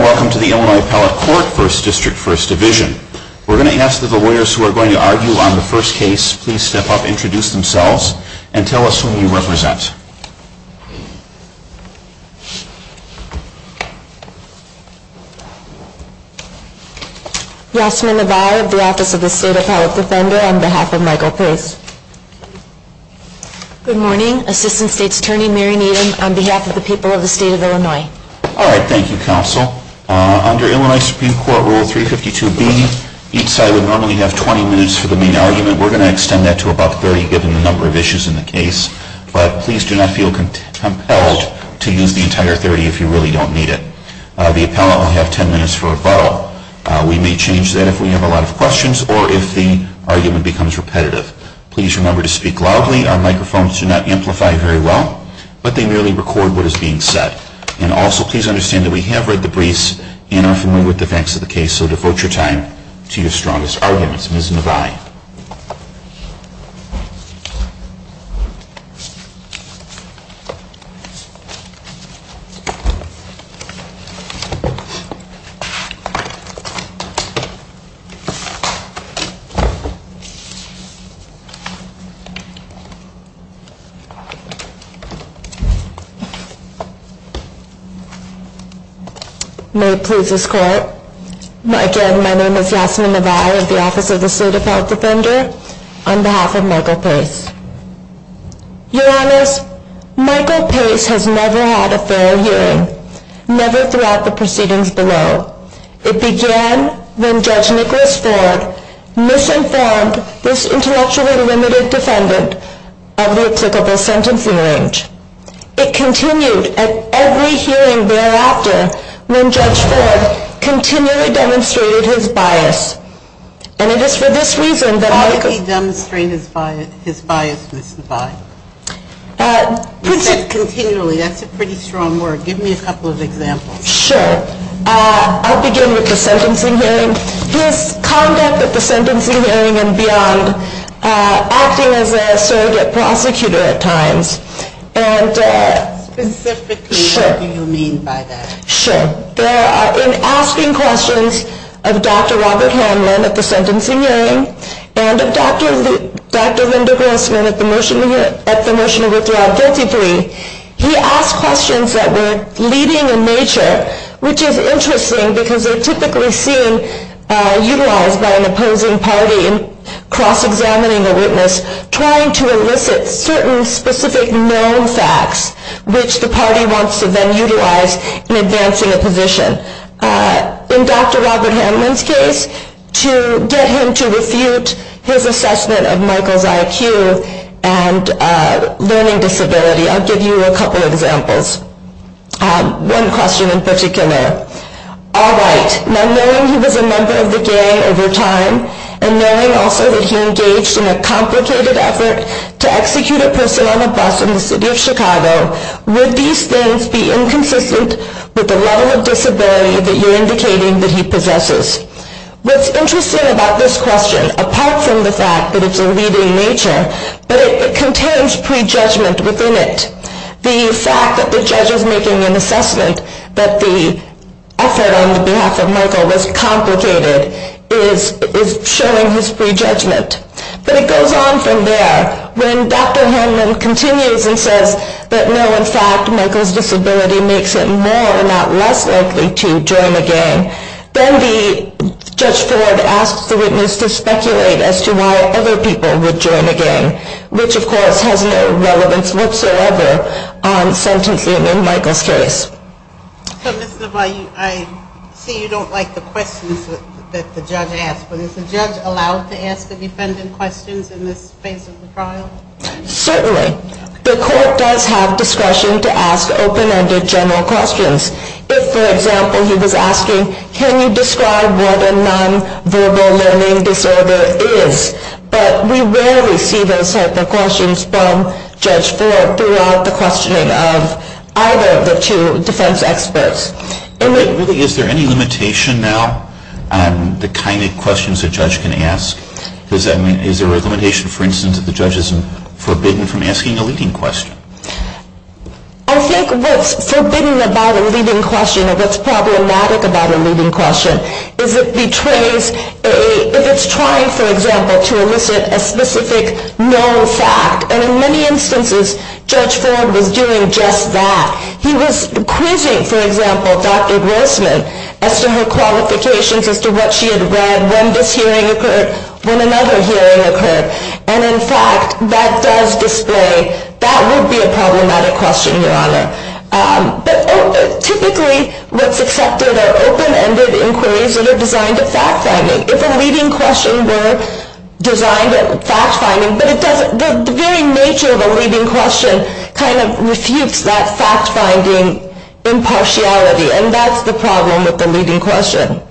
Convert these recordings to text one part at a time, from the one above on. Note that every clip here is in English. Welcome to the Illinois Appellate Court, 1st District, 1st Division. We're going to ask that the lawyers who are going to argue on the first case please step up, introduce themselves, and tell us who you represent. Yasmin Navarro, the Office of the State Appellate Defender, on behalf of Michael Pace. Good morning, Assistant State's Attorney Mary Needham, on behalf of the people of the state of Illinois. All right, thank you, Counsel. Under Illinois Supreme Court Rule 352B, each side would normally have 20 minutes for the main argument. We're going to extend that to about 30, given the number of issues in the case. But please do not feel compelled to use the entire 30 if you really don't need it. The appellate will have 10 minutes for rebuttal. We may change that if we have a lot of questions or if the argument becomes repetitive. Please remember to speak loudly. Our microphones do not amplify very well, but they merely record what is being said. And also, please understand that we have read the briefs and are familiar with the facts of the case, so devote your time to your strongest arguments. Ms. Navarro. May it please this Court, again, my name is Yasmin Navarro of the Office of the State of Illinois, and I'm here to speak on behalf of Michael Pace. Your Honors, Michael Pace has never had a fair hearing, never throughout the proceedings below. It began when Judge Nicholas Ford misinformed this intellectually limited defendant of the applicable sentencing range. It continued at every hearing thereafter when Judge Ford continually demonstrated his bias. Why did he demonstrate his bias? He said continually. That's a pretty strong word. Give me a couple of examples. Sure. I'll begin with the sentencing hearing. His conduct at the sentencing hearing and beyond, acting as a surrogate prosecutor at times. Specifically, what do you mean by that? Sure. In asking questions of Dr. Robert Hanlon at the sentencing hearing, he said that he was going to see Dr. Gressman at the trial. And Dr. Gressman at the motion to withdraw a guilty plea, he asked questions that were leading in nature, which was interesting because they're typically seen utilized by an opposing party in cross-examining a witness, trying to elicit certain specific, known facts, which the party wants to then utilize in advancing a position. In Dr. Robert Hanlon's case, to get him to refute his assessment of Michael's IQ and learning disability, I'll give you a couple of examples. One question in particular. Alright, now knowing he was a member of the gang over time, and knowing also that he engaged in a complicated effort to execute a person on a bus in the city of Chicago, would these things be inconsistent with the level of disability that you're indicating that he possesses? What's interesting about this question, apart from the fact that it's a leading nature, but it contains prejudgment within it. The fact that the judge is making an assessment that the effort on the behalf of Michael was complicated is showing his prejudgment. But it goes on from there. When Dr. Hanlon continues and says that no, in fact, Michael's disability makes it more and not less likely to join a gang, then the judge forward asks the witness to speculate as to why other people would join a gang, which of course has no relevance whatsoever on sentencing in Michael's case. So, Ms. LaValle, I see you don't like the questions that the judge asked, but is the court able to ask open-ended questions in this phase of the trial? Certainly. The court does have discretion to ask open-ended general questions. If, for example, he was asking, can you describe what a non-verbal learning disorder is? But we rarely see those type of questions from Judge Ford throughout the questioning of either of the two defense experts. Really, is there any limitation now on the kind of questions a judge can ask? Is there a limitation, for instance, that the judge isn't forbidden from asking a leading question? I think what's forbidden about a leading question or what's problematic about a leading question is it betrays, if it's trying, for example, to elicit a specific known fact. And in many instances, Judge Ford was doing just that. He was quizzing, for example, Dr. Grossman as to her qualifications, as to what she had read, when this hearing occurred, when another hearing occurred. And in fact, that does display that would be a problematic question, Your Honor. But typically, what's accepted are open-ended inquiries that are designed at fact-finding. If a leading question were designed at fact-finding, but the very nature of a leading question kind of refutes that fact-finding impartiality, and that's the problem with the leading question.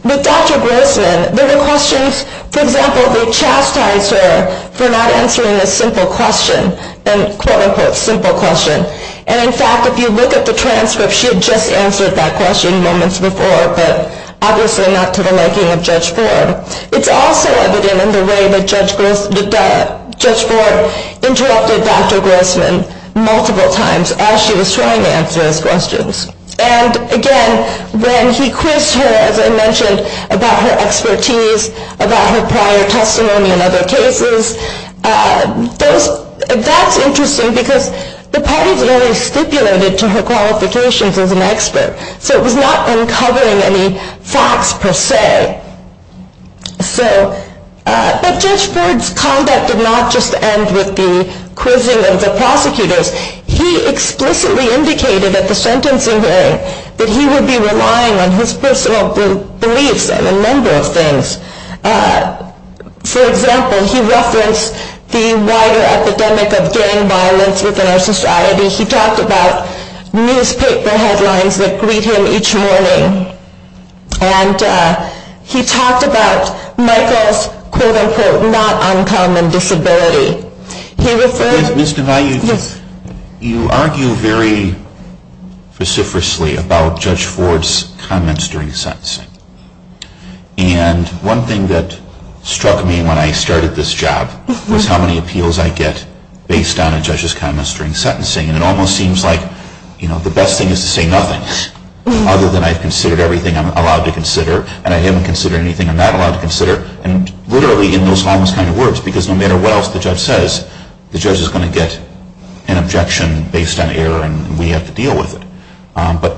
With Dr. Grossman, there were questions, for example, that chastised her for not answering a simple question, a quote-unquote simple question. And in fact, if you look at the transcript, she had just answered that question moments before, but obviously not to the liking of Judge Ford. It's also evident in the way that Judge Ford interrupted Dr. Grossman multiple times as she was trying to answer those questions. And again, when he quizzed her, as I mentioned, about her expertise, about her prior testimony in other cases, that's interesting because the parties had only stipulated to her qualifications as an expert, so it was not uncovering any facts per se. But Judge Ford's conduct did not just end with the quizzing of the prosecutors. He explicitly indicated at the sentencing hearing that he would be relying on his personal beliefs on a number of things. For example, he referenced the wider epidemic of gang violence within our society. He talked about newspaper headlines that greet him each morning. And he talked about Michael's quote-unquote not uncommon disability. Ms. DeValle, you argue very vociferously about Judge Ford's comments during sentencing. And one thing that struck me when I started this job was how many appeals I get based on a judge's comments during sentencing. And it almost seems like, you know, the best thing is to say nothing, other than I've considered everything I'm allowed to consider, and I haven't considered anything I'm not allowed to consider, and literally in those sentences, the judge is going to get an objection based on error, and we have to deal with it. But,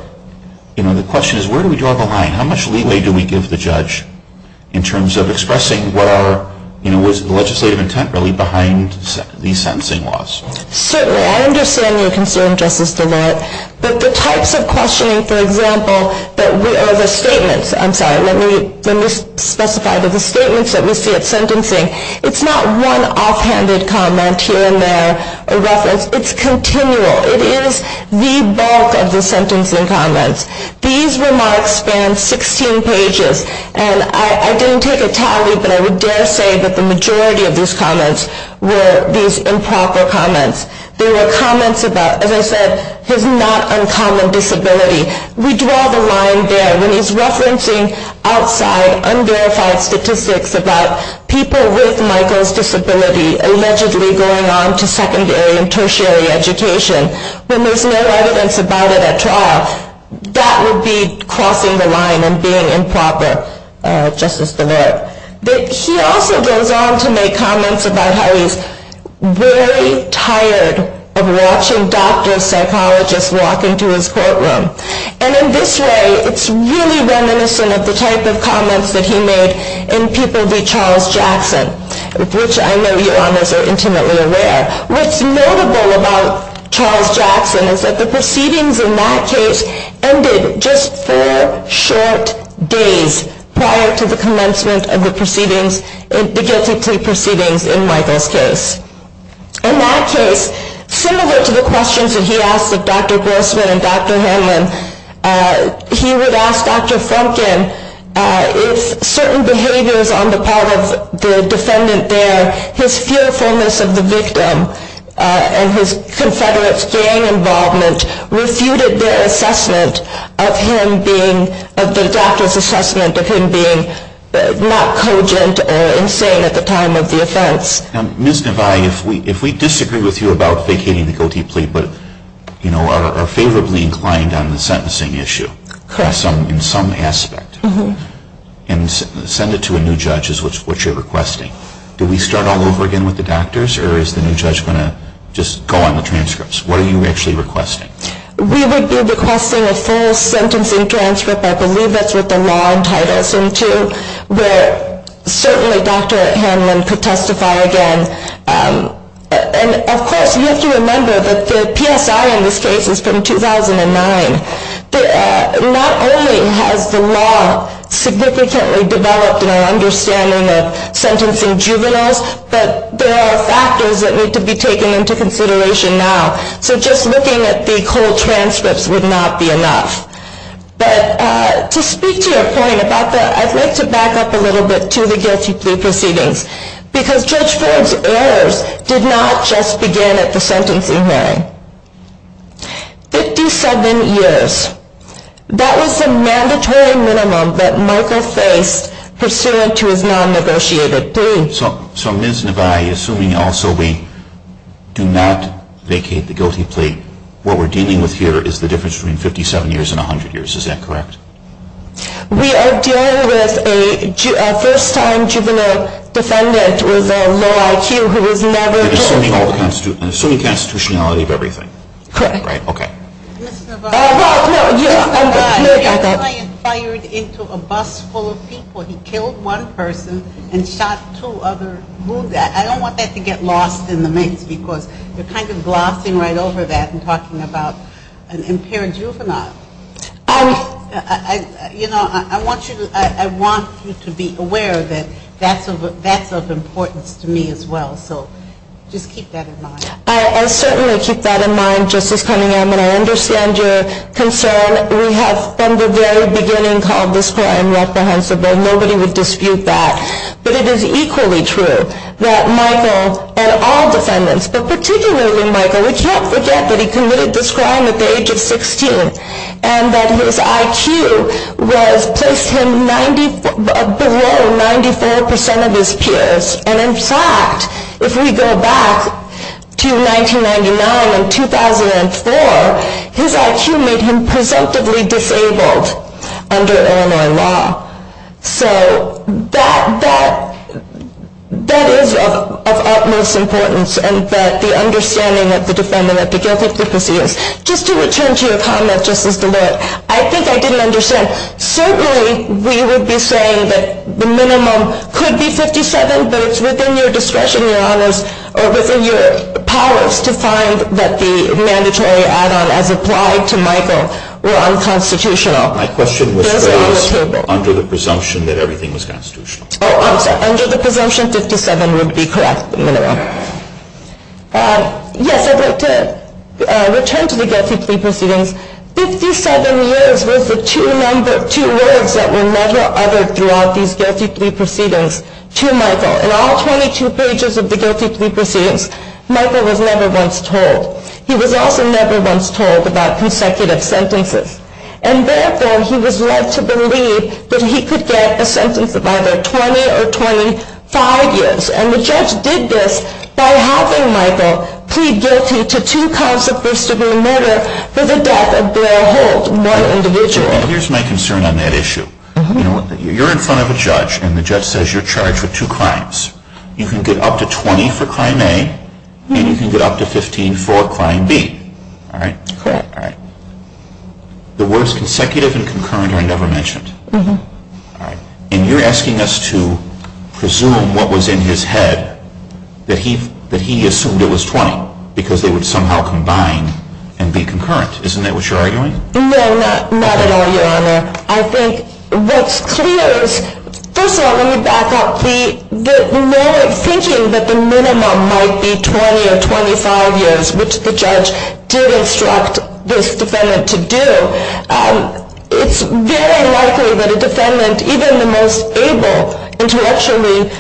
you know, the question is, where do we draw the line? How much leeway do we give the judge in terms of expressing what are, you know, what is the legislative intent really behind these sentencing laws? Certainly. I understand your concern, Justice DeValle. But the types of questioning, for example, or the statements, I'm sorry, let me specify that the statements that we get, it's not one off-handed comment here and there, a reference, it's continual. It is the bulk of the sentencing comments. These remarks span 16 pages, and I didn't take a tally, but I would dare say that the majority of these comments were these improper comments. They were comments about, as I said, his not uncommon disability. We draw the line there when he's referencing outside, unverified statistics about people with Michael's disability. Allegedly going on to secondary and tertiary education, when there's no evidence about it at all. That would be crossing the line and being improper, Justice DeValle. He also goes on to make comments about how he's very tired of watching doctors, psychologists walk into his courtroom. And in this way, it's really reminiscent of the type of comments that he made in People v. Charles Jackson, which I know you all are intimately aware. What's notable about Charles Jackson is that the proceedings in that case ended just four short days prior to the commencement of the guilty plea proceedings in Michael's case. In that case, similar to the questions that he asked of Dr. Grossman and Dr. Hanlon, he would ask Dr. Frumkin if certain behaviors on the part of the defendant there, his fearfulness of the victim and his confederate gang involvement refuted their assessment of him being, of the doctor's assessment of him being not cogent or insane at the time of the offense. Ms. DeValle, if we disagree with you about vacating the guilty plea, but are favorably inclined on the sentencing issue in some aspect, and send it to a new judge is what you're requesting, do we start all over again with the doctors, or is the new judge going to just go on the transcripts? What are you actually requesting? We would be requesting a full sentencing transcript, I believe that's what the law entitles him to, where certainly Dr. Hanlon could testify again. And of course, you have to remember that the PSI in this case is from 2009. Not only has the law significantly developed in our understanding of sentencing juveniles, but there are factors that need to be taken into consideration now. So just looking at the cold transcripts would not be enough. But to speak to your point about that, I'd like to back up a little bit to the guilty plea proceedings, because Judge Frumkin's errors did not just begin at the sentencing hearing. Fifty-seven years. That was the mandatory minimum that Markle faced pursuant to his non-negotiated plea. So Ms. Nevaeh, assuming also we do not vacate the guilty plea, what we're dealing with here is the difference between 57 years and 100 years, is that correct? We are dealing with a first-time juvenile defendant with a low IQ who was never convicted. And assuming constitutionality of everything. Correct. Ms. Nevaeh, your client fired into a bus full of people. He killed one person and shot two other. I don't want that to get lost in the mix, because you're kind of glossing right over that and talking about an impaired juvenile. You know, I want you to be aware that that's of importance to me as well. Just keep that in mind. I certainly keep that in mind, Justice Cunningham, and I understand your concern. We have from the very beginning called this crime reprehensible. Nobody would dispute that. But it is equally true that Michael and all defendants, but particularly Michael, we can't forget that he committed this crime at the age of 16, and that his IQ was placed below 94% of his peers. And in fact, if we go back to 1999 and 2004, his IQ made him presumptively disabled under Illinois law. So that is of utmost importance, and that the understanding of the defendant that the guilty prophecy is. Just to return to your comment, Justice DeLoy, I think I didn't understand. Certainly, we would be saying that the minimum could be 57, but it's within your discretion, Your Honors, or within your powers to find that the mandatory add-on as applied to Michael were unconstitutional. My question was very simple. Under the presumption that everything was constitutional. Oh, I'm sorry. Under the presumption 57 would be correct, the minimum. Yes, I'd like to return to the guilty plea proceedings. 57 years was the two words that were never uttered throughout these guilty plea proceedings to Michael. In all 22 pages of the guilty plea proceedings, Michael was never once told. He was also never once told about consecutive sentences. And therefore, he was led to believe that he could get a sentence of either 20 or 25 years. And the judge did this by having Michael plead guilty to two counts of first-degree murder for the death of Blair Holt, one individual. And here's my concern on that issue. You're in front of a judge, and the judge says you're charged with two crimes. You can get up to 20 for crime A, and you can get up to 15 for crime B. Correct. The words consecutive and concurrent are never mentioned. And you're asking us to presume what was in his head that he assumed it was 20, because they would somehow combine and be concurrent. Isn't that what you're arguing? No, not at all, Your Honor. I think what's clear is, first of all, let me back up, thinking that the minimum might be 20 or 25 years, which the judge did instruct this defendant to do, it's very likely that a defendant, even the most able, intellectually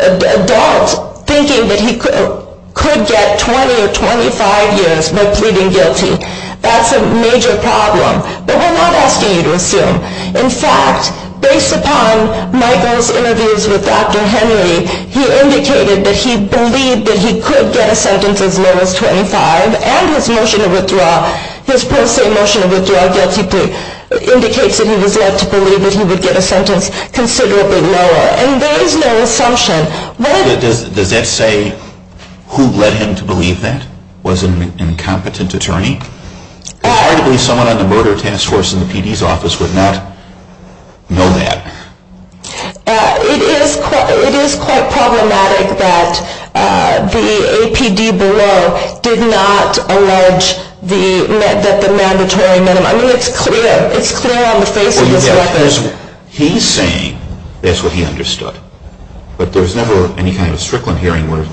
adult, thinking that he could get 20 or 25 years by pleading guilty. That's a major problem. But we're not asking you to assume. In fact, based upon Michael's interviews with Dr. Henry, he indicated that he believed that he could get a sentence as low as 25, and his motion to withdraw, his pro se motion to withdraw guilty plea, indicates that he was led to believe that he would get a sentence considerably lower. And there is no assumption. Does that say who led him to believe that? Was it an incompetent attorney? It's hard to believe someone on the murder task force in the PD's office would not know that. It is quite problematic that the APD below did not allege that the mandatory minimum. I mean, it's clear on the face of this case that the judge is saying that's what he understood. But there's never any kind of Strickland hearing where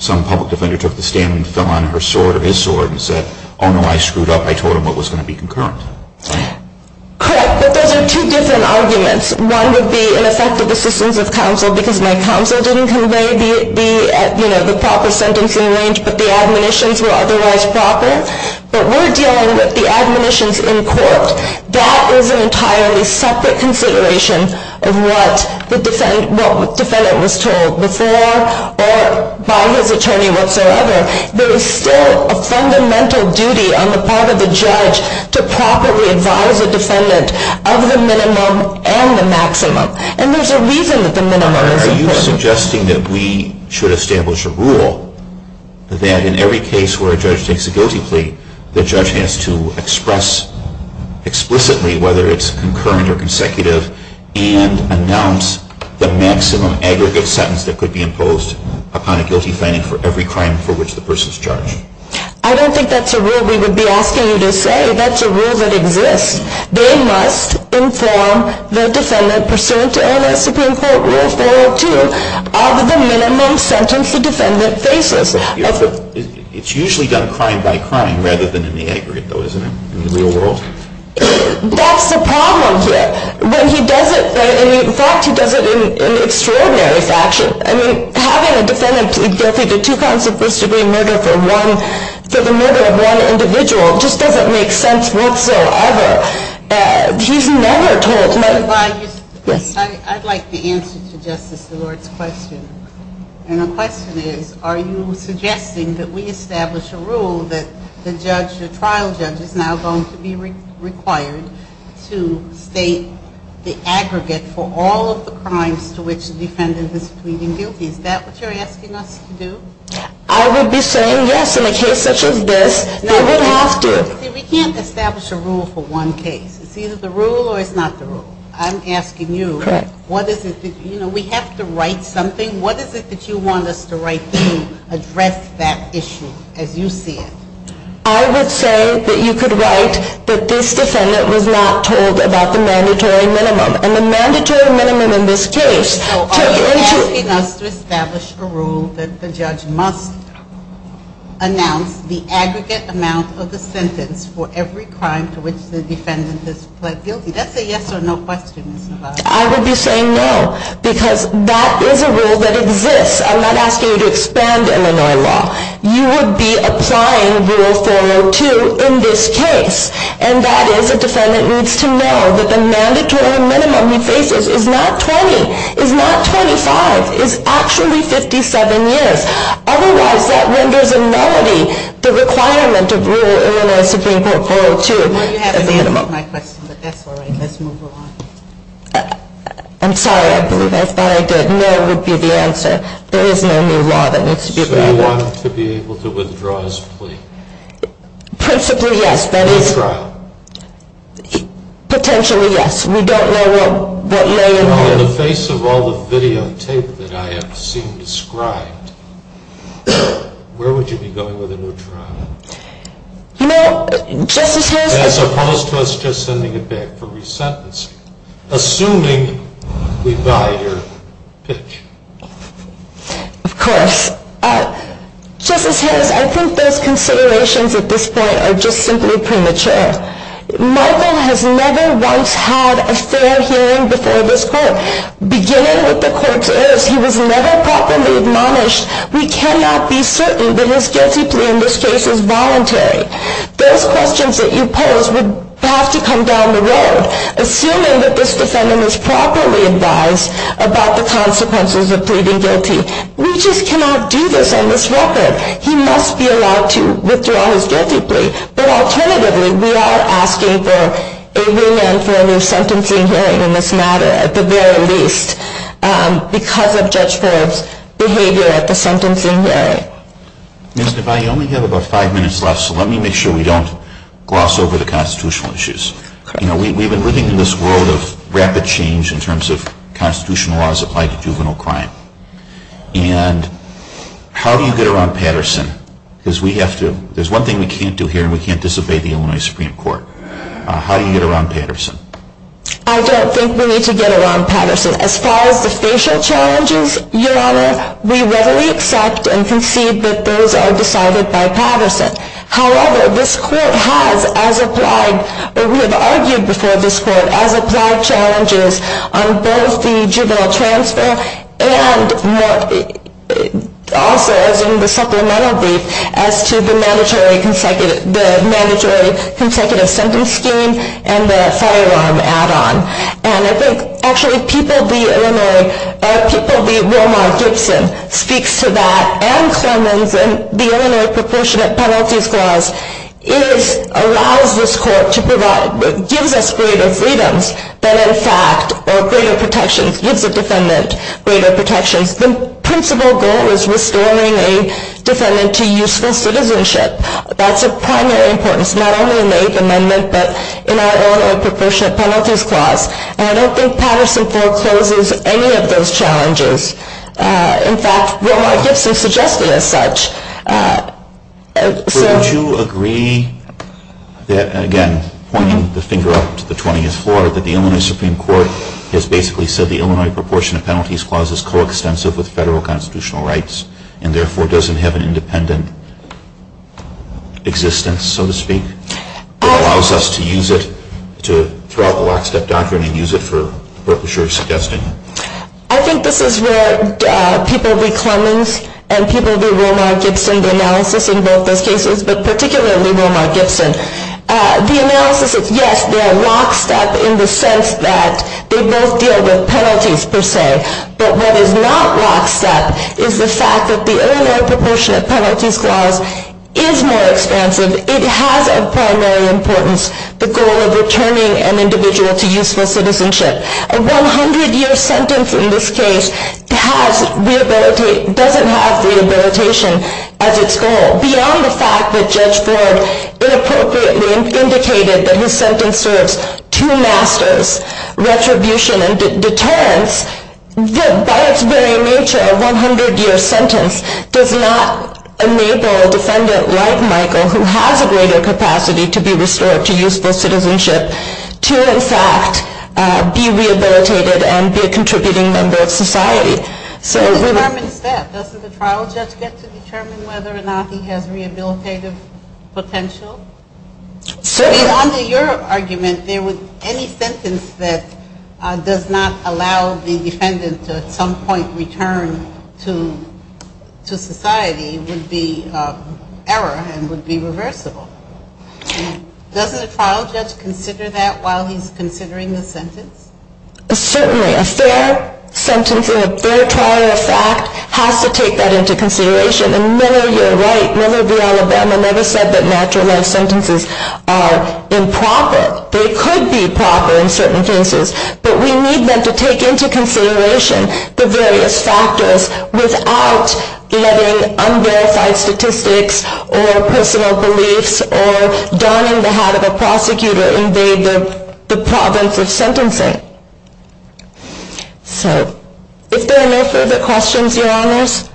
some public defender took the stand and fell on her sword or his sword and said, oh, no, I screwed up. I told him what was going to be concurrent. Correct. But those are two different arguments. One would be an effective assistance of counsel, because my counsel didn't convey the proper sentence in range, but the admonitions were otherwise proper. But we're dealing with the admonitions in court. That is an entirely separate consideration of what the defendant was told before or by his attorney whatsoever. There is still a fundamental duty on the part of the judge to properly advise the defendant of the minimum and the maximum. And there's a reason that the minimum is important. Are you suggesting that we should establish a rule that in every case where a judge takes a guilty plea, the judge has to express explicitly whether it's concurrent or consecutive and announce the maximum aggregate sentence that could be imposed upon a guilty finding for every crime for which the person is charged? I don't think that's a rule we would be asking you to say. That's a rule that exists. They must inform the defendant pursuant to ANS Supreme Court Rule 402 of the minimum sentence the defendant faces. It's usually done crime by crime rather than in the aggregate, though, isn't it, in the real world? That's the problem here. When he does it, in fact, he does it in extraordinary fashion. I mean, having a defendant guilty to two counts of first-degree murder for the murder of one individual just doesn't make sense whatsoever. He's never told. I'd like the answer to Justice Szilard's question. And the question is, are you suggesting that we establish a rule that the trial judge is now going to be required to state the aggregate for all of the crimes to which the defendant is pleading guilty? Is that what you're asking us to do? I would be saying yes in a case such as this. We can't establish a rule for one case. It's either the rule or it's not the rule. I'm asking you, you know, we have to write something. What is it that you want us to write to address that issue as you see it? I would say that you could write that this defendant was not told about the mandatory minimum. And the mandatory minimum in this case took into – So are you asking us to establish a rule that the judge must announce the aggregate amount of the sentence for every crime to which the defendant has pled guilty? That's a yes or no question. I would be saying no, because that is a rule that exists. I'm not asking you to expand Illinois law. You would be applying Rule 402 in this case. And that is, a defendant needs to know that the mandatory minimum he faces is not 20, is not 25, is actually 57 years. Otherwise, that renders a nullity the requirement of Rule 402. Well, you haven't answered my question, but that's all right. Let's move along. I'm sorry. I thought I did. No would be the answer. There is no new law that needs to be drafted. So you want him to be able to withdraw his plea? Principally, yes. That is – New trial? Potentially, yes. We don't know what lay in hold. In the face of all the videotape that I have seen described, where would you be going with a new trial? You know, Justice Harris – As opposed to us just sending it back for resentencing, assuming we buy your pitch. Of course. Justice Harris, I think those considerations at this point are just simply premature. Michael has never once had a fair hearing before this Court. Beginning with the court's errors, he was never properly admonished. We cannot be asking for a new sentencing hearing in this matter. At the very least, because of Judge Forbes' behavior at the sentencing hearing. Ms. Devine, you only have about five minutes left. I would like to ask you a question. I have only five minutes left, so let me make sure we don't gloss over the constitutional issues. We've been living in this world of rapid change in terms of constitutional laws applied to juvenile crime. There's one thing we can't do here, and we can't disobey the Illinois Supreme Court. How do you get around Patterson? I don't think we need to get around Patterson. As far as the facial challenges, Your Honor, we readily accept and concede that those are decided by Patterson. However, this Court has, as applied, or we have argued before this Court, as applied challenges on both the juvenile transfer and also, as in the supplemental brief, as to the mandatory consecutive sentence scheme and the firearm add-on. And I think, actually, people of the Illinois Supreme Court, and I think Romar Gibson speaks to that, and Clemens, and the Illinois Proportionate Penalties Clause allows this Court to provide, gives us greater freedoms than, in fact, or greater protections, gives a defendant greater protections. The principal goal is restoring a defendant to useful citizenship. That's of primary importance, not only in the Eighth Amendment, but in our Illinois Proportionate Penalties Clause. And I don't think Patterson forecloses any of those challenges. In fact, Romar Gibson suggested as such. So would you agree that, again, pointing the finger up to the 20th floor, that the Illinois Supreme Court has basically said the Illinois Proportionate Penalties Clause is coextensive with federal constitutional rights, and therefore doesn't have an independent existence, so to speak, that allows us to use it throughout the lockstep doctrine and use it for what you're suggesting? I think this is where people of the Clemens and people of the Romar Gibson, the analysis in both those cases, but particularly Romar Gibson, the analysis is, yes, they are lockstep in the sense that they both deal with penalties, per se. But what is not lockstep is the fact that the Illinois Proportionate Penalties Clause is more expansive. It has, of primary importance, the goal of returning an individual to useful citizenship. A 100-year sentence in this case doesn't have rehabilitation as its goal. Beyond the fact that Judge Ford inappropriately indicated that his sentence serves two masters, retribution and deterrence, by its very nature, a 100-year sentence does not enable a defendant like Michael who has a greater capacity to be restored to useful citizenship to, in fact, be rehabilitated and be a contributing member of society. So it determines that. Doesn't the trial judge get to determine whether or not he has rehabilitative potential? Certainly. I mean, under your argument, any sentence that does not allow the defendant to at some point return to society would be an error and would be reversible. Doesn't a trial judge consider that while he's considering the sentence? Certainly. A fair sentence and a fair trial fact has to take that into consideration. And Miller, you're right, Miller v. Alabama never said that natural life sentences are improper. They could be proper in certain cases, but we need them to take into consideration the various factors without letting unverified statistics or personal beliefs or donning the hat of a prosecutor invade the province of sentencing. If there are no further questions, Your Honors,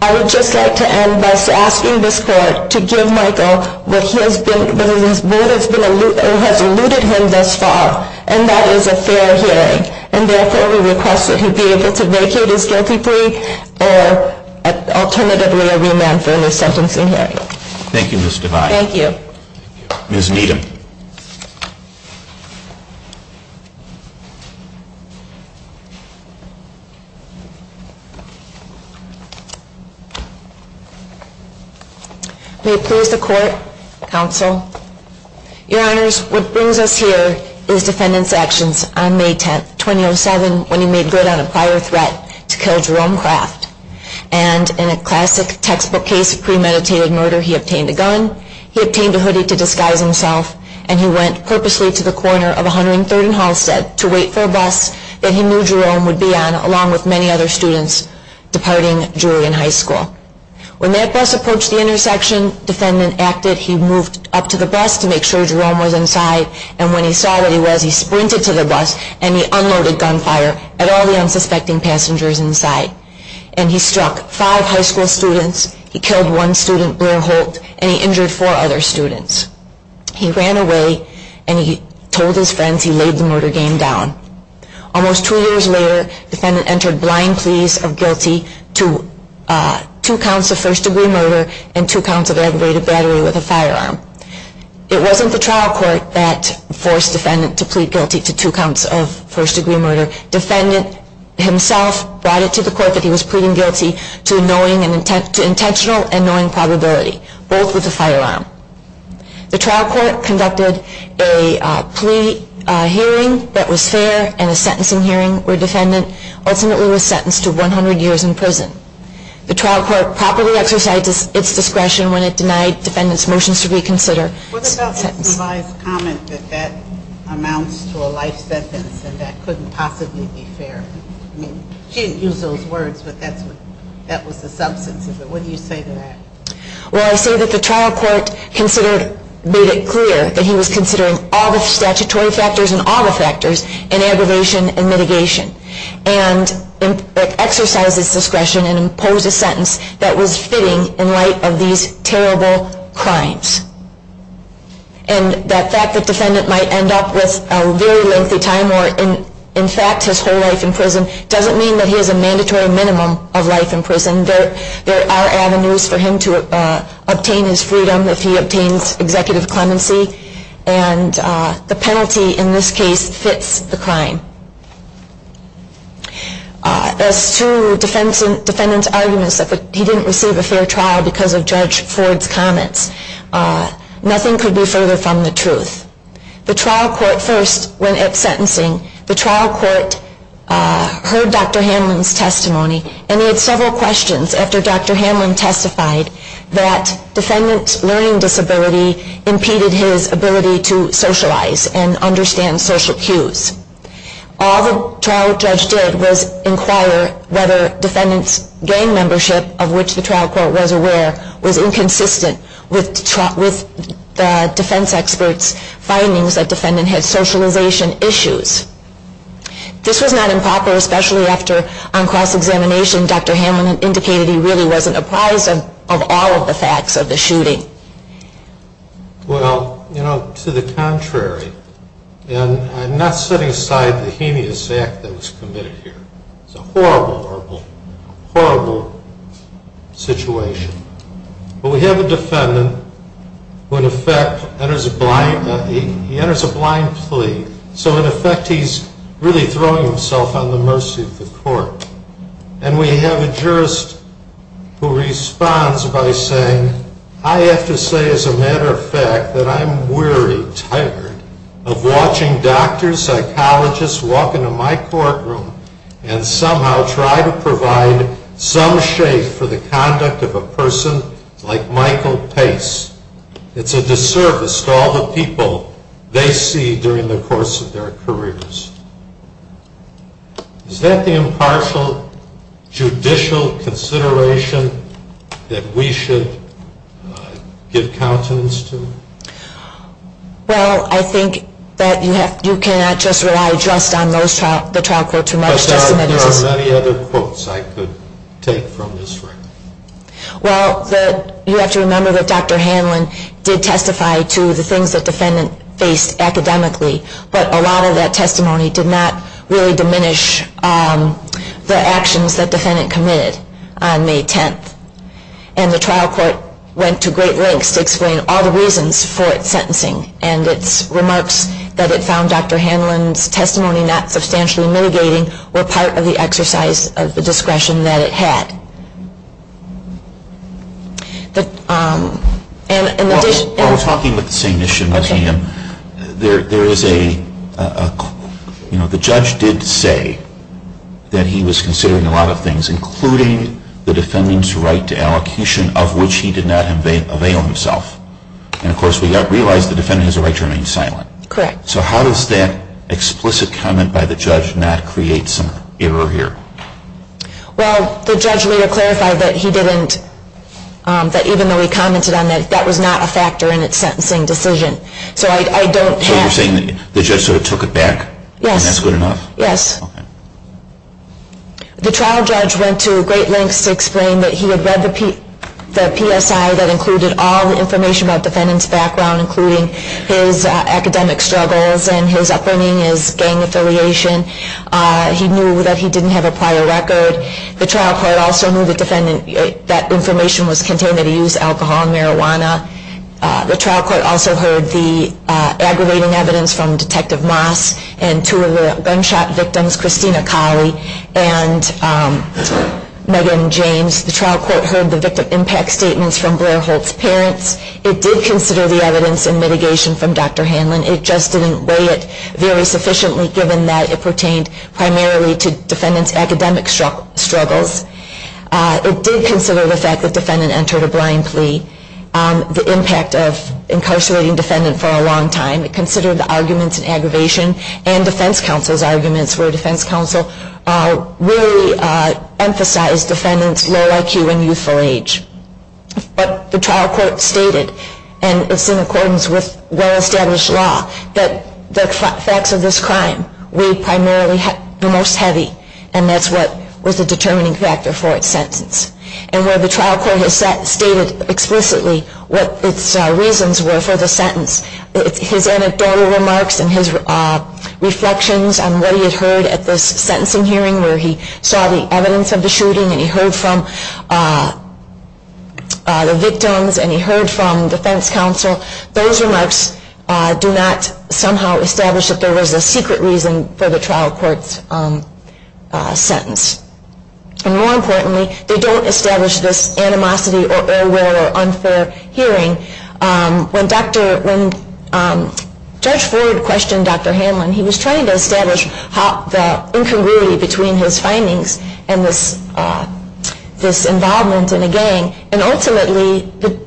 I would just like to end by asking this Court to give Michael what has eluded him thus far, and that is a fair hearing. And therefore, we request that he be able to vacate his guilty plea or alternatively a remand for a new sentencing hearing. Thank you, Ms. Devine. May it please the Court, Counsel. Your Honors, what brings us here is defendant's actions on May 10, 2007, when he made good on a prior threat to kill Jerome Craft. And in a classic textbook case of premeditated murder, he obtained a gun, he obtained a hoodie to disguise himself, and he went purposely to the corner of 103rd and Halsted to wait for a bus that he knew Jerome would be on, along with many other students departing Julian High School. When that bus approached the intersection, defendant acted. He moved up to the bus to make sure Jerome was inside, and when he saw what he was, he sprinted to the bus and he unloaded gunfire at all the unsuspecting passengers inside. And he struck five high school students, he killed one student, Blair Holt, and he injured four other students. He ran away and he told his friends he laid the murder game down. Almost two years later, defendant entered blind pleas of guilty to two counts of first-degree murder and two counts of aggravated battery with a firearm. It wasn't the trial court that forced defendant to plead guilty to two counts of first-degree murder. Defendant himself brought it to the court that he was pleading guilty to intentional and knowing probability, both with a firearm. The trial court conducted a plea hearing that was fair and a sentencing hearing where defendant ultimately was sentenced to 100 years in prison. The trial court properly exercised its discretion when it denied defendant's motions to plead guilty to two counts of first-degree murder. I'm going to ask you to comment that that amounts to a life sentence and that couldn't possibly be fair. I mean, she didn't use those words, but that was the substance of it. What do you say to that? Well, I say that the trial court made it clear that he was considering all the statutory factors and all the factors in aggravation and mitigation and exercised his discretion and the fact that defendant might end up with a very lengthy time or in fact his whole life in prison doesn't mean that he has a mandatory minimum of life in prison. There are avenues for him to obtain his freedom if he obtains executive clemency and the penalty in this case fits the crime. As to defendant's arguments that the trial court made clear that he was considering all the mitigation and exercised his discretion and the fact that defendant might end up with a very lengthy time or in fact his whole life in prison doesn't mean that he has a mandatory minimum of life in prison. As to defendant's arguments that the trial court made clear that he was considering all the statutory factors and all the factors in the fact that defendant might end up with a very lengthy time or in fact his whole life in prison doesn't mean that he has a mandatory minimum of life in prison. We have a defendant who in effect enters a blind plea. So in effect he's really throwing himself on the mercy of the court. And we have a jurist who responds by saying I have to say as a matter of fact that I'm weary, tired of watching doctors, psychologists walk into my courtroom and somehow try to provide some shape for the conduct of a person like Michael Pace. It's a disservice to all the people they see during the course of their careers. Is that the impartial judicial consideration that we should give countenance to? Well, I think that you cannot just rely just on the trial court too much. There are many other quotes I could take from this record. Well, you have to remember that Dr. Hanlon did testify to the things that defendant faced academically, but a lot of that testimony did not really diminish the actions that defendant committed on May 10th. And the trial court went to great lengths to explain all the reasons for its sentencing and its remarks that it found Dr. Hanlon's testimony not substantially mitigating were part of the exercise of the case. While we're talking about the same issue, there is a, you know, the judge did say that he was considering a lot of things including the defendant's right to allocation of which he did not avail himself. And of course we realize the defendant has a right to remain silent. Correct. So how does that explicit comment by the judge not create some error here? Well, the judge later clarified that he didn't, that even though he commented on that, that was not a factor in its sentencing decision. So I don't have. So you're saying the judge sort of took it back? Yes. And that's good enough? Yes. Okay. The trial judge went to great lengths to explain that he had read the PSI that included all the information about defendant's background including his academic struggles and his upbringing, his gang affiliation. He knew that he didn't have a prior record. The trial court also knew the defendant, that information was contained that he used alcohol and marijuana. The trial court also heard the aggravating evidence from Detective Moss and two of the gunshot victims, Christina Colley and Megan James. The trial court heard the victim impact statements from Blair Holt's parents. It did consider the evidence and mitigation from Dr. Hanlon. It just didn't weigh it very sufficiently given that it pertained primarily to defendant's academic struggles. It did consider the fact that defendant entered a blind plea, the impact of incarcerating defendant for a long time. It considered the arguments in aggravation and defense counsel's arguments where defense counsel really emphasized defendant's low IQ and youthful age. But the trial court stated, and it's in accordance with well established law, that the facts of this crime weighed primarily the most heavy and that's what was the determining factor for its sentence. And where the trial court has stated explicitly what its reasons were for the sentence, his anecdotal remarks and his reflections on what he had heard at this sentencing hearing where he saw the evidence of the shooting and he heard from the victims and he heard from defense counsel, those remarks do not somehow establish that there was a secret reason for the trial court's sentence. And more importantly, they don't establish this animosity or ill will or unfair hearing. When Judge Ford questioned Dr. Hanlon, he was trying to establish the incongruity between his findings and this involvement in a gang and ultimately the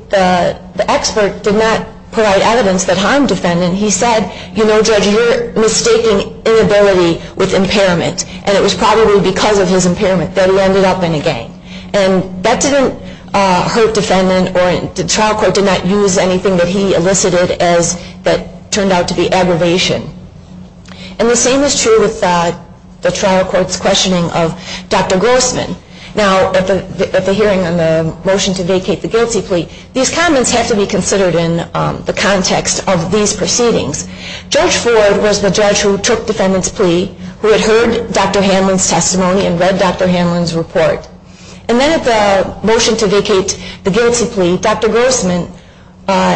expert did not provide evidence that harmed defendant. He said, you know, Judge, you're mistaking inability with impairment and it was probably because of his impairment that he ended up in a gang. And that didn't hurt defendant or the trial court did not use anything that he elicited that turned out to be aggravation. And the same is true with the trial court's questioning of Dr. Grossman. Now, at the hearing on the motion to vacate the guilty plea, these comments have to be considered in the context of these proceedings. Judge Ford was the judge who took defendant's plea, who had heard Dr. Hanlon's testimony and read Dr. Hanlon's report. And then at the motion to vacate the guilty plea, Dr. Grossman,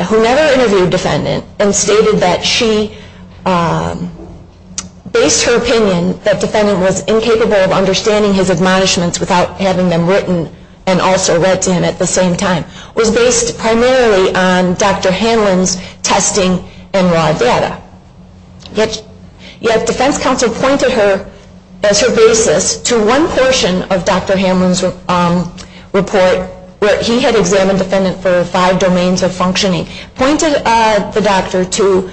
who never interviewed defendant and stated that she based her opinion that defendant was incapable of understanding his testimony and also read to him at the same time, was based primarily on Dr. Hanlon's testing and raw data. Yet defense counsel pointed her, as her basis, to one portion of Dr. Hanlon's report where he had examined defendant for five domains of functioning, pointed the doctor to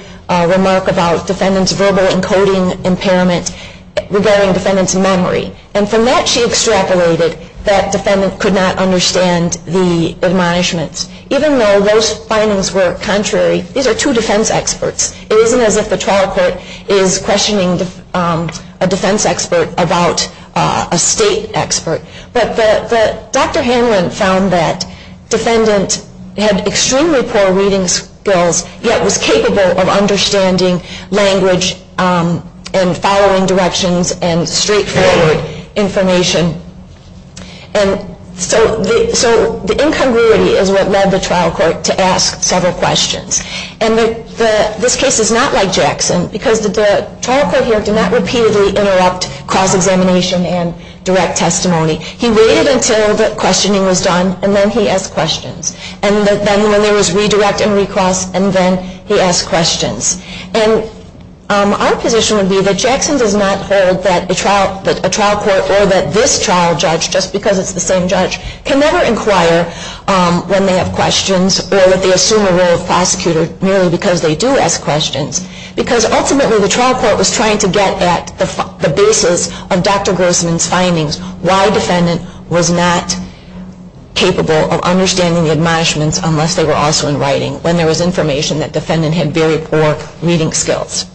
remark about defendant's verbal encoding impairment regarding defendant's memory. And from that she extrapolated that defendant could not understand the admonishments. Even though those findings were contrary, these are two defense experts. It isn't as if the trial court is questioning a defense expert about a state expert. But Dr. Hanlon found that defendant had extremely poor reading skills, yet was capable of understanding language and following directions and straightforward information. So the incongruity is what led the trial court to ask several questions. And this case is not like Jackson because the trial court here did not repeatedly interrupt cross-examination and direct testimony. He waited until the questioning was done and then he asked questions. And then when there was redirect and recross and then he asked questions. And our position would be that Jackson does not hold that a trial court or that this trial judge, just because it's the same judge, can never inquire when they have questions or that they assume a role of prosecutor merely because they do ask questions. Because ultimately the trial court was trying to get at the basis of Dr. Grossman's findings, why defendant was not capable of understanding the admonishments unless they were also in writing, when there was information that defendant had very poor reading skills.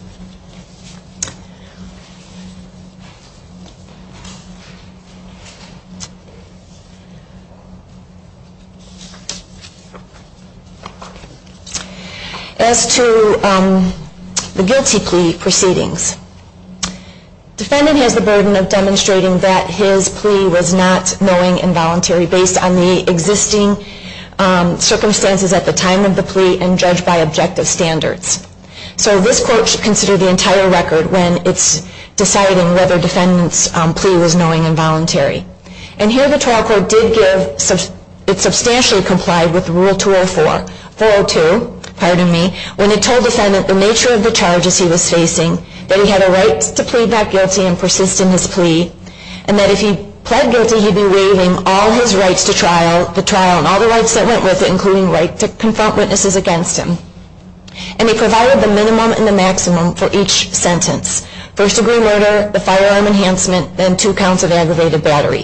As to the guilty plea proceedings, defendant has the burden of demonstrating that his plea was not knowing and voluntary based on the existing circumstances at the time of the plea and judged by objective standards. So this court should consider the entire record when it's deciding whether defendant's plea was knowing and voluntary. And here the trial court did give, it substantially complied with Rule 204, 402, pardon me, when it told defendant the nature of the charges he was facing, that he had a right to plead not guilty and persist in his plea, and that if he pled guilty he'd be waiving all his rights to trial, the trial and all the rights that went with it, including right to confront witnesses against him. And they provided the minimum and the maximum for each sentence, first degree murder, the firearm enhancement, and two counts of aggravated battery.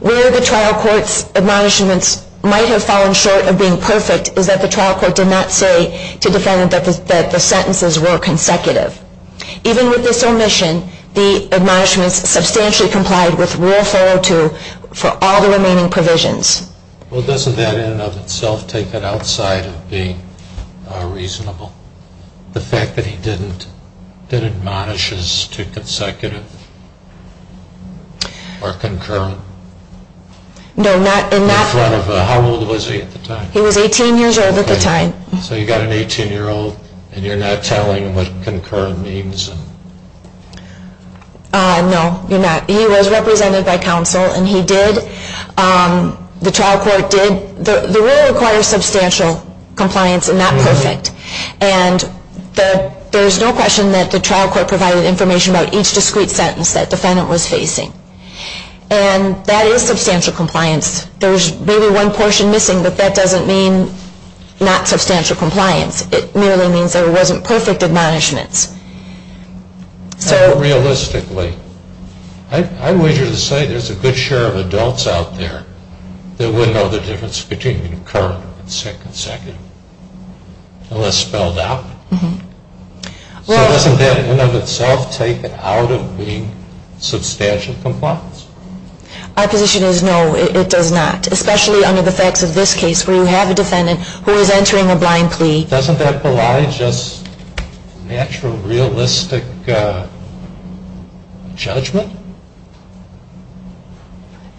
Where the trial court's admonishments might have fallen short of being perfect is that the trial court did not say to defendant that the sentences were consecutive. Even with this omission, the admonishments substantially complied with Rule 402 for all the remaining provisions. Well, doesn't that in and of itself take that outside of being reasonable? The fact that he didn't admonish as too consecutive or concurrent? No, not in that... How old was he at the time? He was 18 years old at the time. So you've got an 18-year-old and you're not telling him what concurrent means? No, you're not. He was represented by counsel and he did. The trial court did. The rule requires substantial compliance and not perfect. And there's no question that the trial court provided information about each discrete sentence that defendant was facing. And that is substantial compliance. There's maybe one portion missing, but that doesn't mean not substantial compliance. It merely means there wasn't perfect admonishments. Realistically, I wager to say there's a good share of adults out there that wouldn't know the difference between concurrent and consecutive unless spelled out. So doesn't that in and of itself take it out of being substantial compliance? My position is no, it does not, especially under the facts of this case where you have a defendant who is entering a blind plea. Doesn't that belie just natural, realistic judgment?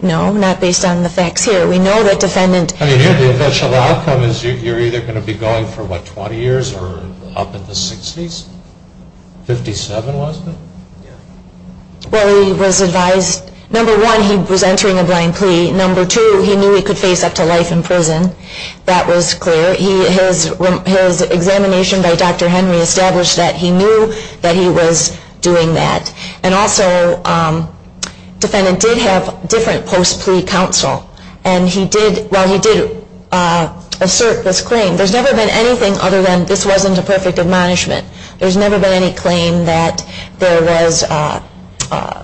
No, not based on the facts here. We know that defendant The eventual outcome is you're either going to be going for, what, 20 years or up in the 60s? 57, was it? Well, he was advised, number one, he was entering a blind plea. Number two, he knew he could face up to life in prison. That was clear. His examination by Dr. Henry established that he knew that he was doing that. And also defendant did have different post-plea counsel and he did, well, he did assert this claim. There's never been anything other than this wasn't a perfect admonishment. There's never been any claim that there was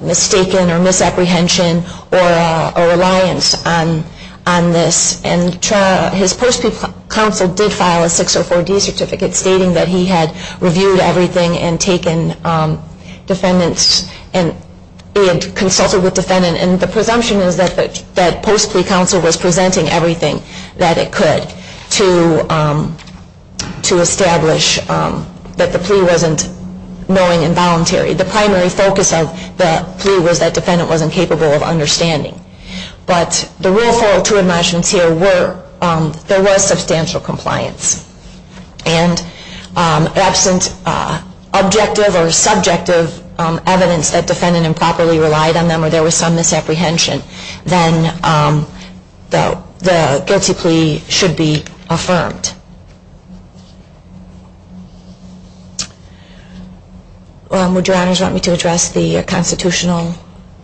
mistaken or misapprehension or a reliance on this. And his post-plea counsel did file a 604D certificate stating that he had reviewed everything and taken defendants and consulted with defendant. And the presumption is that post-plea counsel was presenting everything that it could to establish that the plea wasn't knowing and voluntary. The primary focus of the plea was that defendant wasn't capable of understanding. But the real fall to admonishments here were there was substantial compliance. And absent objective or subjective evidence that defendant improperly relied on them or there was some misapprehension, then the guilty plea should be affirmed. Would your honors want me to address the constitutional?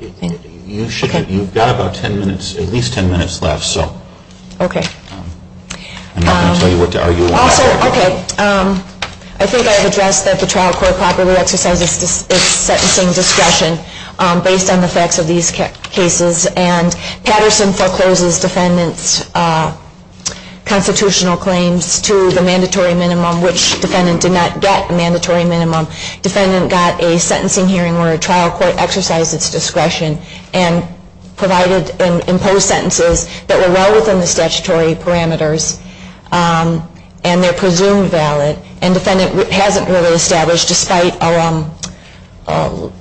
You've got about ten minutes, at least ten minutes left. Okay. I think I've addressed that the trial court properly exercises its sentencing discretion based on the facts of these cases. And Patterson forecloses defendant's constitutional claims to the mandatory minimum, which defendant did not get a mandatory minimum. Defendant got a sentencing hearing where a trial court exercised its discretion and provided and imposed sentences that were well within the statutory parameters and they're presumed valid. And defendant hasn't really established, despite, for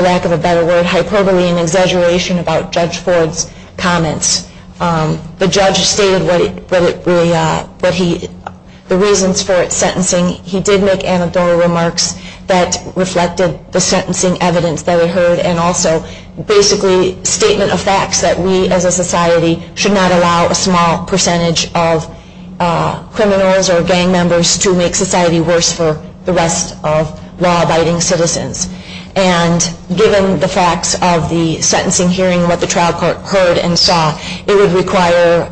lack of a better word, hyperbole and exaggeration about Judge Ford's comments. The judge stated the reasons for its sentencing. He did make anecdotal remarks that reflected the sentencing evidence that it heard and also basically statement of facts that we as a society should not allow a small percentage of criminals or gang members to make society worse for the rest of law-abiding citizens. And given the facts of the sentencing hearing and what the trial court heard and saw, it would require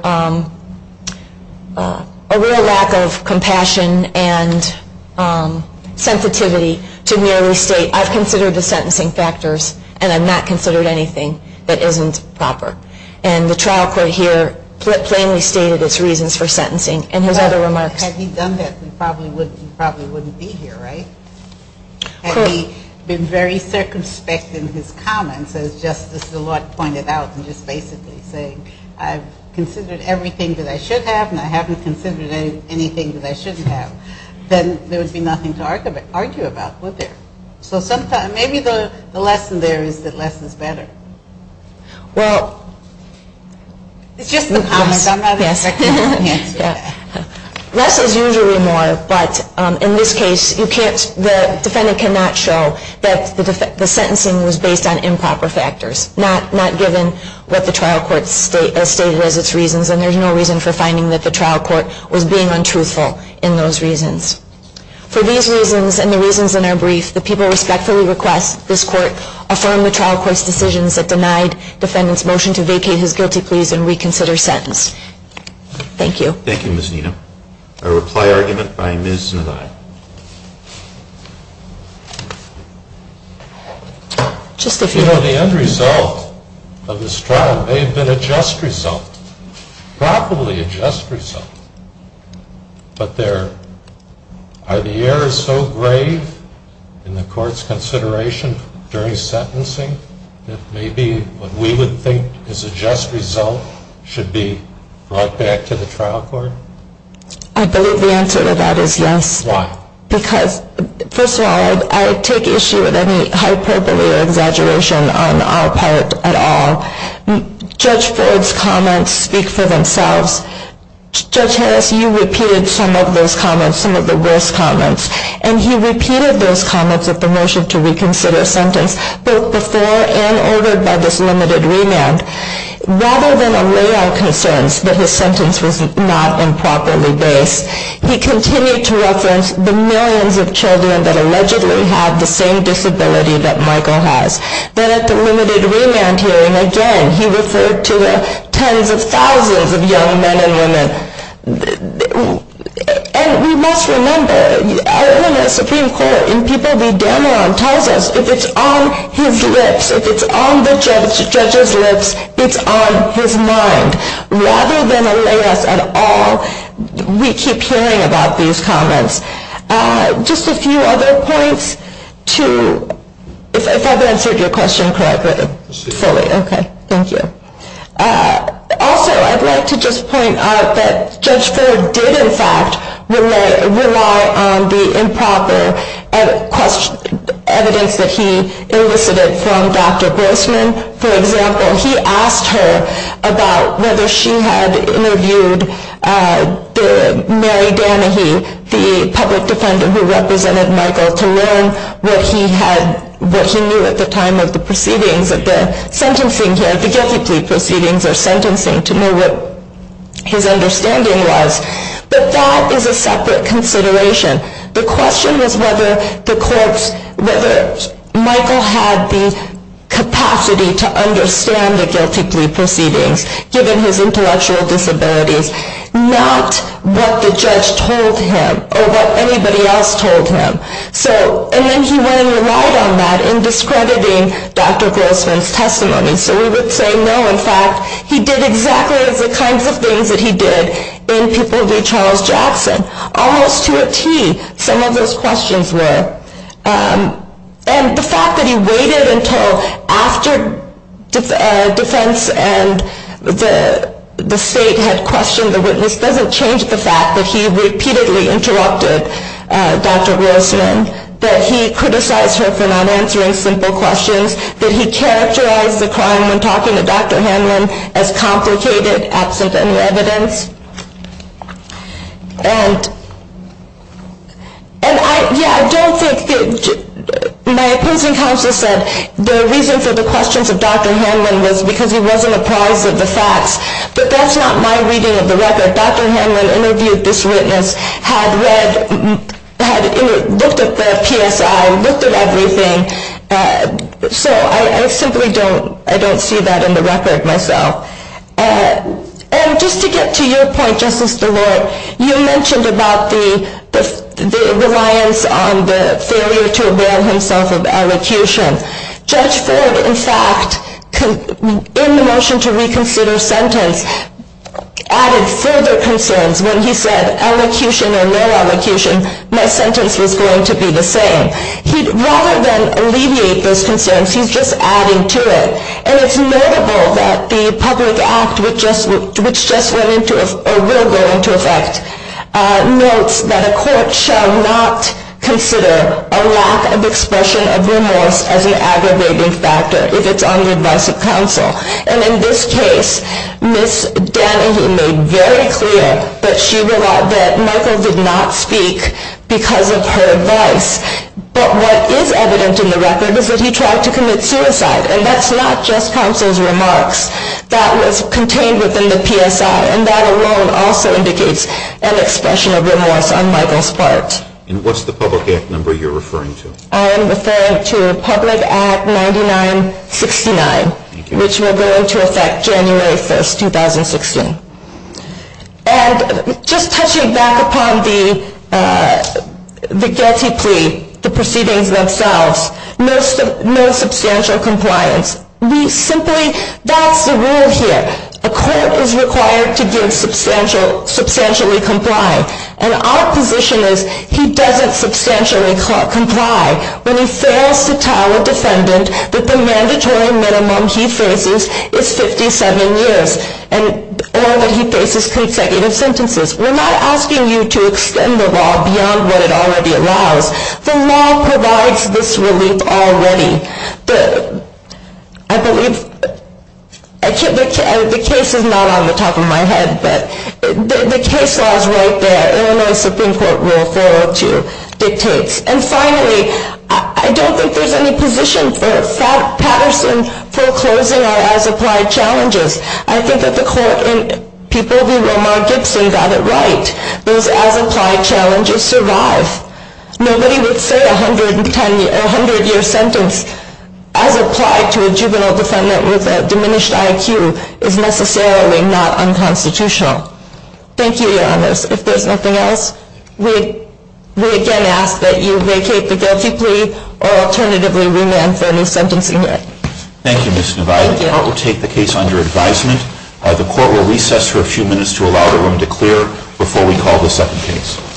a real lack of compassion and sensitivity to merely state, I've considered the sentencing factors and I've not considered anything that isn't proper. And the trial court here plainly stated its reasons for sentencing and his other remarks. Had he done that, he probably wouldn't be here, right? Had he been very circumspect in his comments as just as the Lord pointed out and just basically saying, I've considered everything that I should have and I haven't considered anything that I shouldn't have, then there would be nothing to argue about, would there? So maybe the lesson there is that less is better. Well, it's just the comments. I'm not expecting you to answer that. Less is usually more, but in this case, the defendant cannot show that the sentencing was based on improper factors, not given what the trial court stated as its reasons, and there's no reason for finding that the trial court was being untruthful in those reasons. For these reasons and the reasons in our brief, the people respectfully request this court affirm the trial court's decisions that denied defendant's motion to vacate his guilty pleas and reconsider sentence. Thank you. Thank you, Ms. Nenna. A reply argument by Ms. Nenna. You know, the end result of this trial may have been a just result, probably a just result, but are the errors so grave in the court's consideration during sentencing that maybe what we would think is a just result should be brought back to the trial court? I believe the answer to that is yes. Why? Because, first of all, I take issue with any hyperbole or exaggeration on our part at all. Judge Ford's comments speak for themselves. Judge Harris, you repeated some of those comments, some of the worst comments, and he repeated those comments of the motion to reconsider sentence both before and over by this limited remand. Rather than allay our concerns that his sentence was not improperly based, he continued to reference the millions of children that allegedly have the same disability that Michael has. Then at the limited remand hearing, again, he referred to the men and women. And we must remember everyone at Supreme Court and people we damn around tells us if it's on his lips, if it's on the judge's lips, it's on his mind. Rather than allay us at all, we keep hearing about these comments. Just a few other points to, if I've answered your question correctly, fully. Okay, thank you. Also, I'd like to just point out that Judge Ford did, in fact, rely on the improper evidence that he elicited from Dr. Grossman. For example, he asked her about whether she had interviewed Mary Danahy, the public defendant who represented Michael, to learn what he knew at the time of the proceedings, at the sentencing here, the guilty plea proceedings or sentencing, to know what his understanding was. But that is a separate consideration. The question was whether Michael had the capacity to understand the guilty plea proceedings, given his intellectual disabilities, not what the judge told him or what anybody else told him. And then he went and relied on that in discrediting Dr. Grossman's testimony. So we would say, no, in fact, he did exactly the kinds of things that he did in Pupil v. Charles Jackson, almost to a tee, some of those questions were. And the fact that he waited until after defense and the state had questioned the witness doesn't change the fact that he repeatedly interrupted Dr. Grossman, that he criticized her for not answering simple questions, that he characterized the crime when talking to Dr. Hanlon as complicated, absent any evidence. And I don't think that my opposing counsel said the reason for the questions of Dr. Hanlon was because he wasn't apprised of the facts. But that's not my reading of the record. Dr. Hanlon interviewed this witness, had read, looked at the PSI, looked at everything. So I simply don't see that in the record myself. And just to get to your point, Justice DeLort, you mentioned about the reliance on the failure to avail himself of elocution. Judge Ford, in fact, in the motion to reconsider sentence, added further concerns when he said, elocution or no elocution, my sentence was going to be the same. Rather than alleviate those concerns, he's just adding to it. And it's notable that the public act which just went into, or will go into effect, notes that a court shall not consider a lack of expression of remorse as an aggravating factor if it's on the advice of counsel. And in this case, Ms. Danahy made very clear that Michael did not speak because of her advice. But what is evident in the record is that he tried to commit suicide. And that's not just counsel's remarks. That was contained within the PSI. And that alone also indicates an expression of remorse on Michael's part. And what's the public act number you're referring to? I am referring to Public Act 9969. Which will go into effect January 1, 2016. And just touching back upon the Getty plea, the proceedings themselves, no substantial compliance. We simply that's the rule here. A court is required to substantially comply. And our position is he doesn't substantially comply when he fails to tell a defendant that the mandatory minimum he faces is 57 years. Or that he faces consecutive sentences. We're not asking you to extend the law beyond what it already allows. The law provides this relief already. I believe the case is not on the top of my head, but the case law is right there. Illinois Supreme Court Rule 402 dictates. And finally, I don't think there's any position for Patterson foreclosing on as-applied challenges. I think that the people v. Romar Gibson got it right. Those as-applied challenges survive. Nobody would say a 100-year sentence as applied to a juvenile defendant with a diminished IQ is necessarily not unconstitutional. Thank you, Your Honors. If there's nothing else, we again ask that you vacate the guilty plea or alternatively remand for a new sentence. Thank you, Ms. Nevaeh. The Court will take the case under advisement. The Court will recess for a few minutes to allow the room to clear before we call the second case.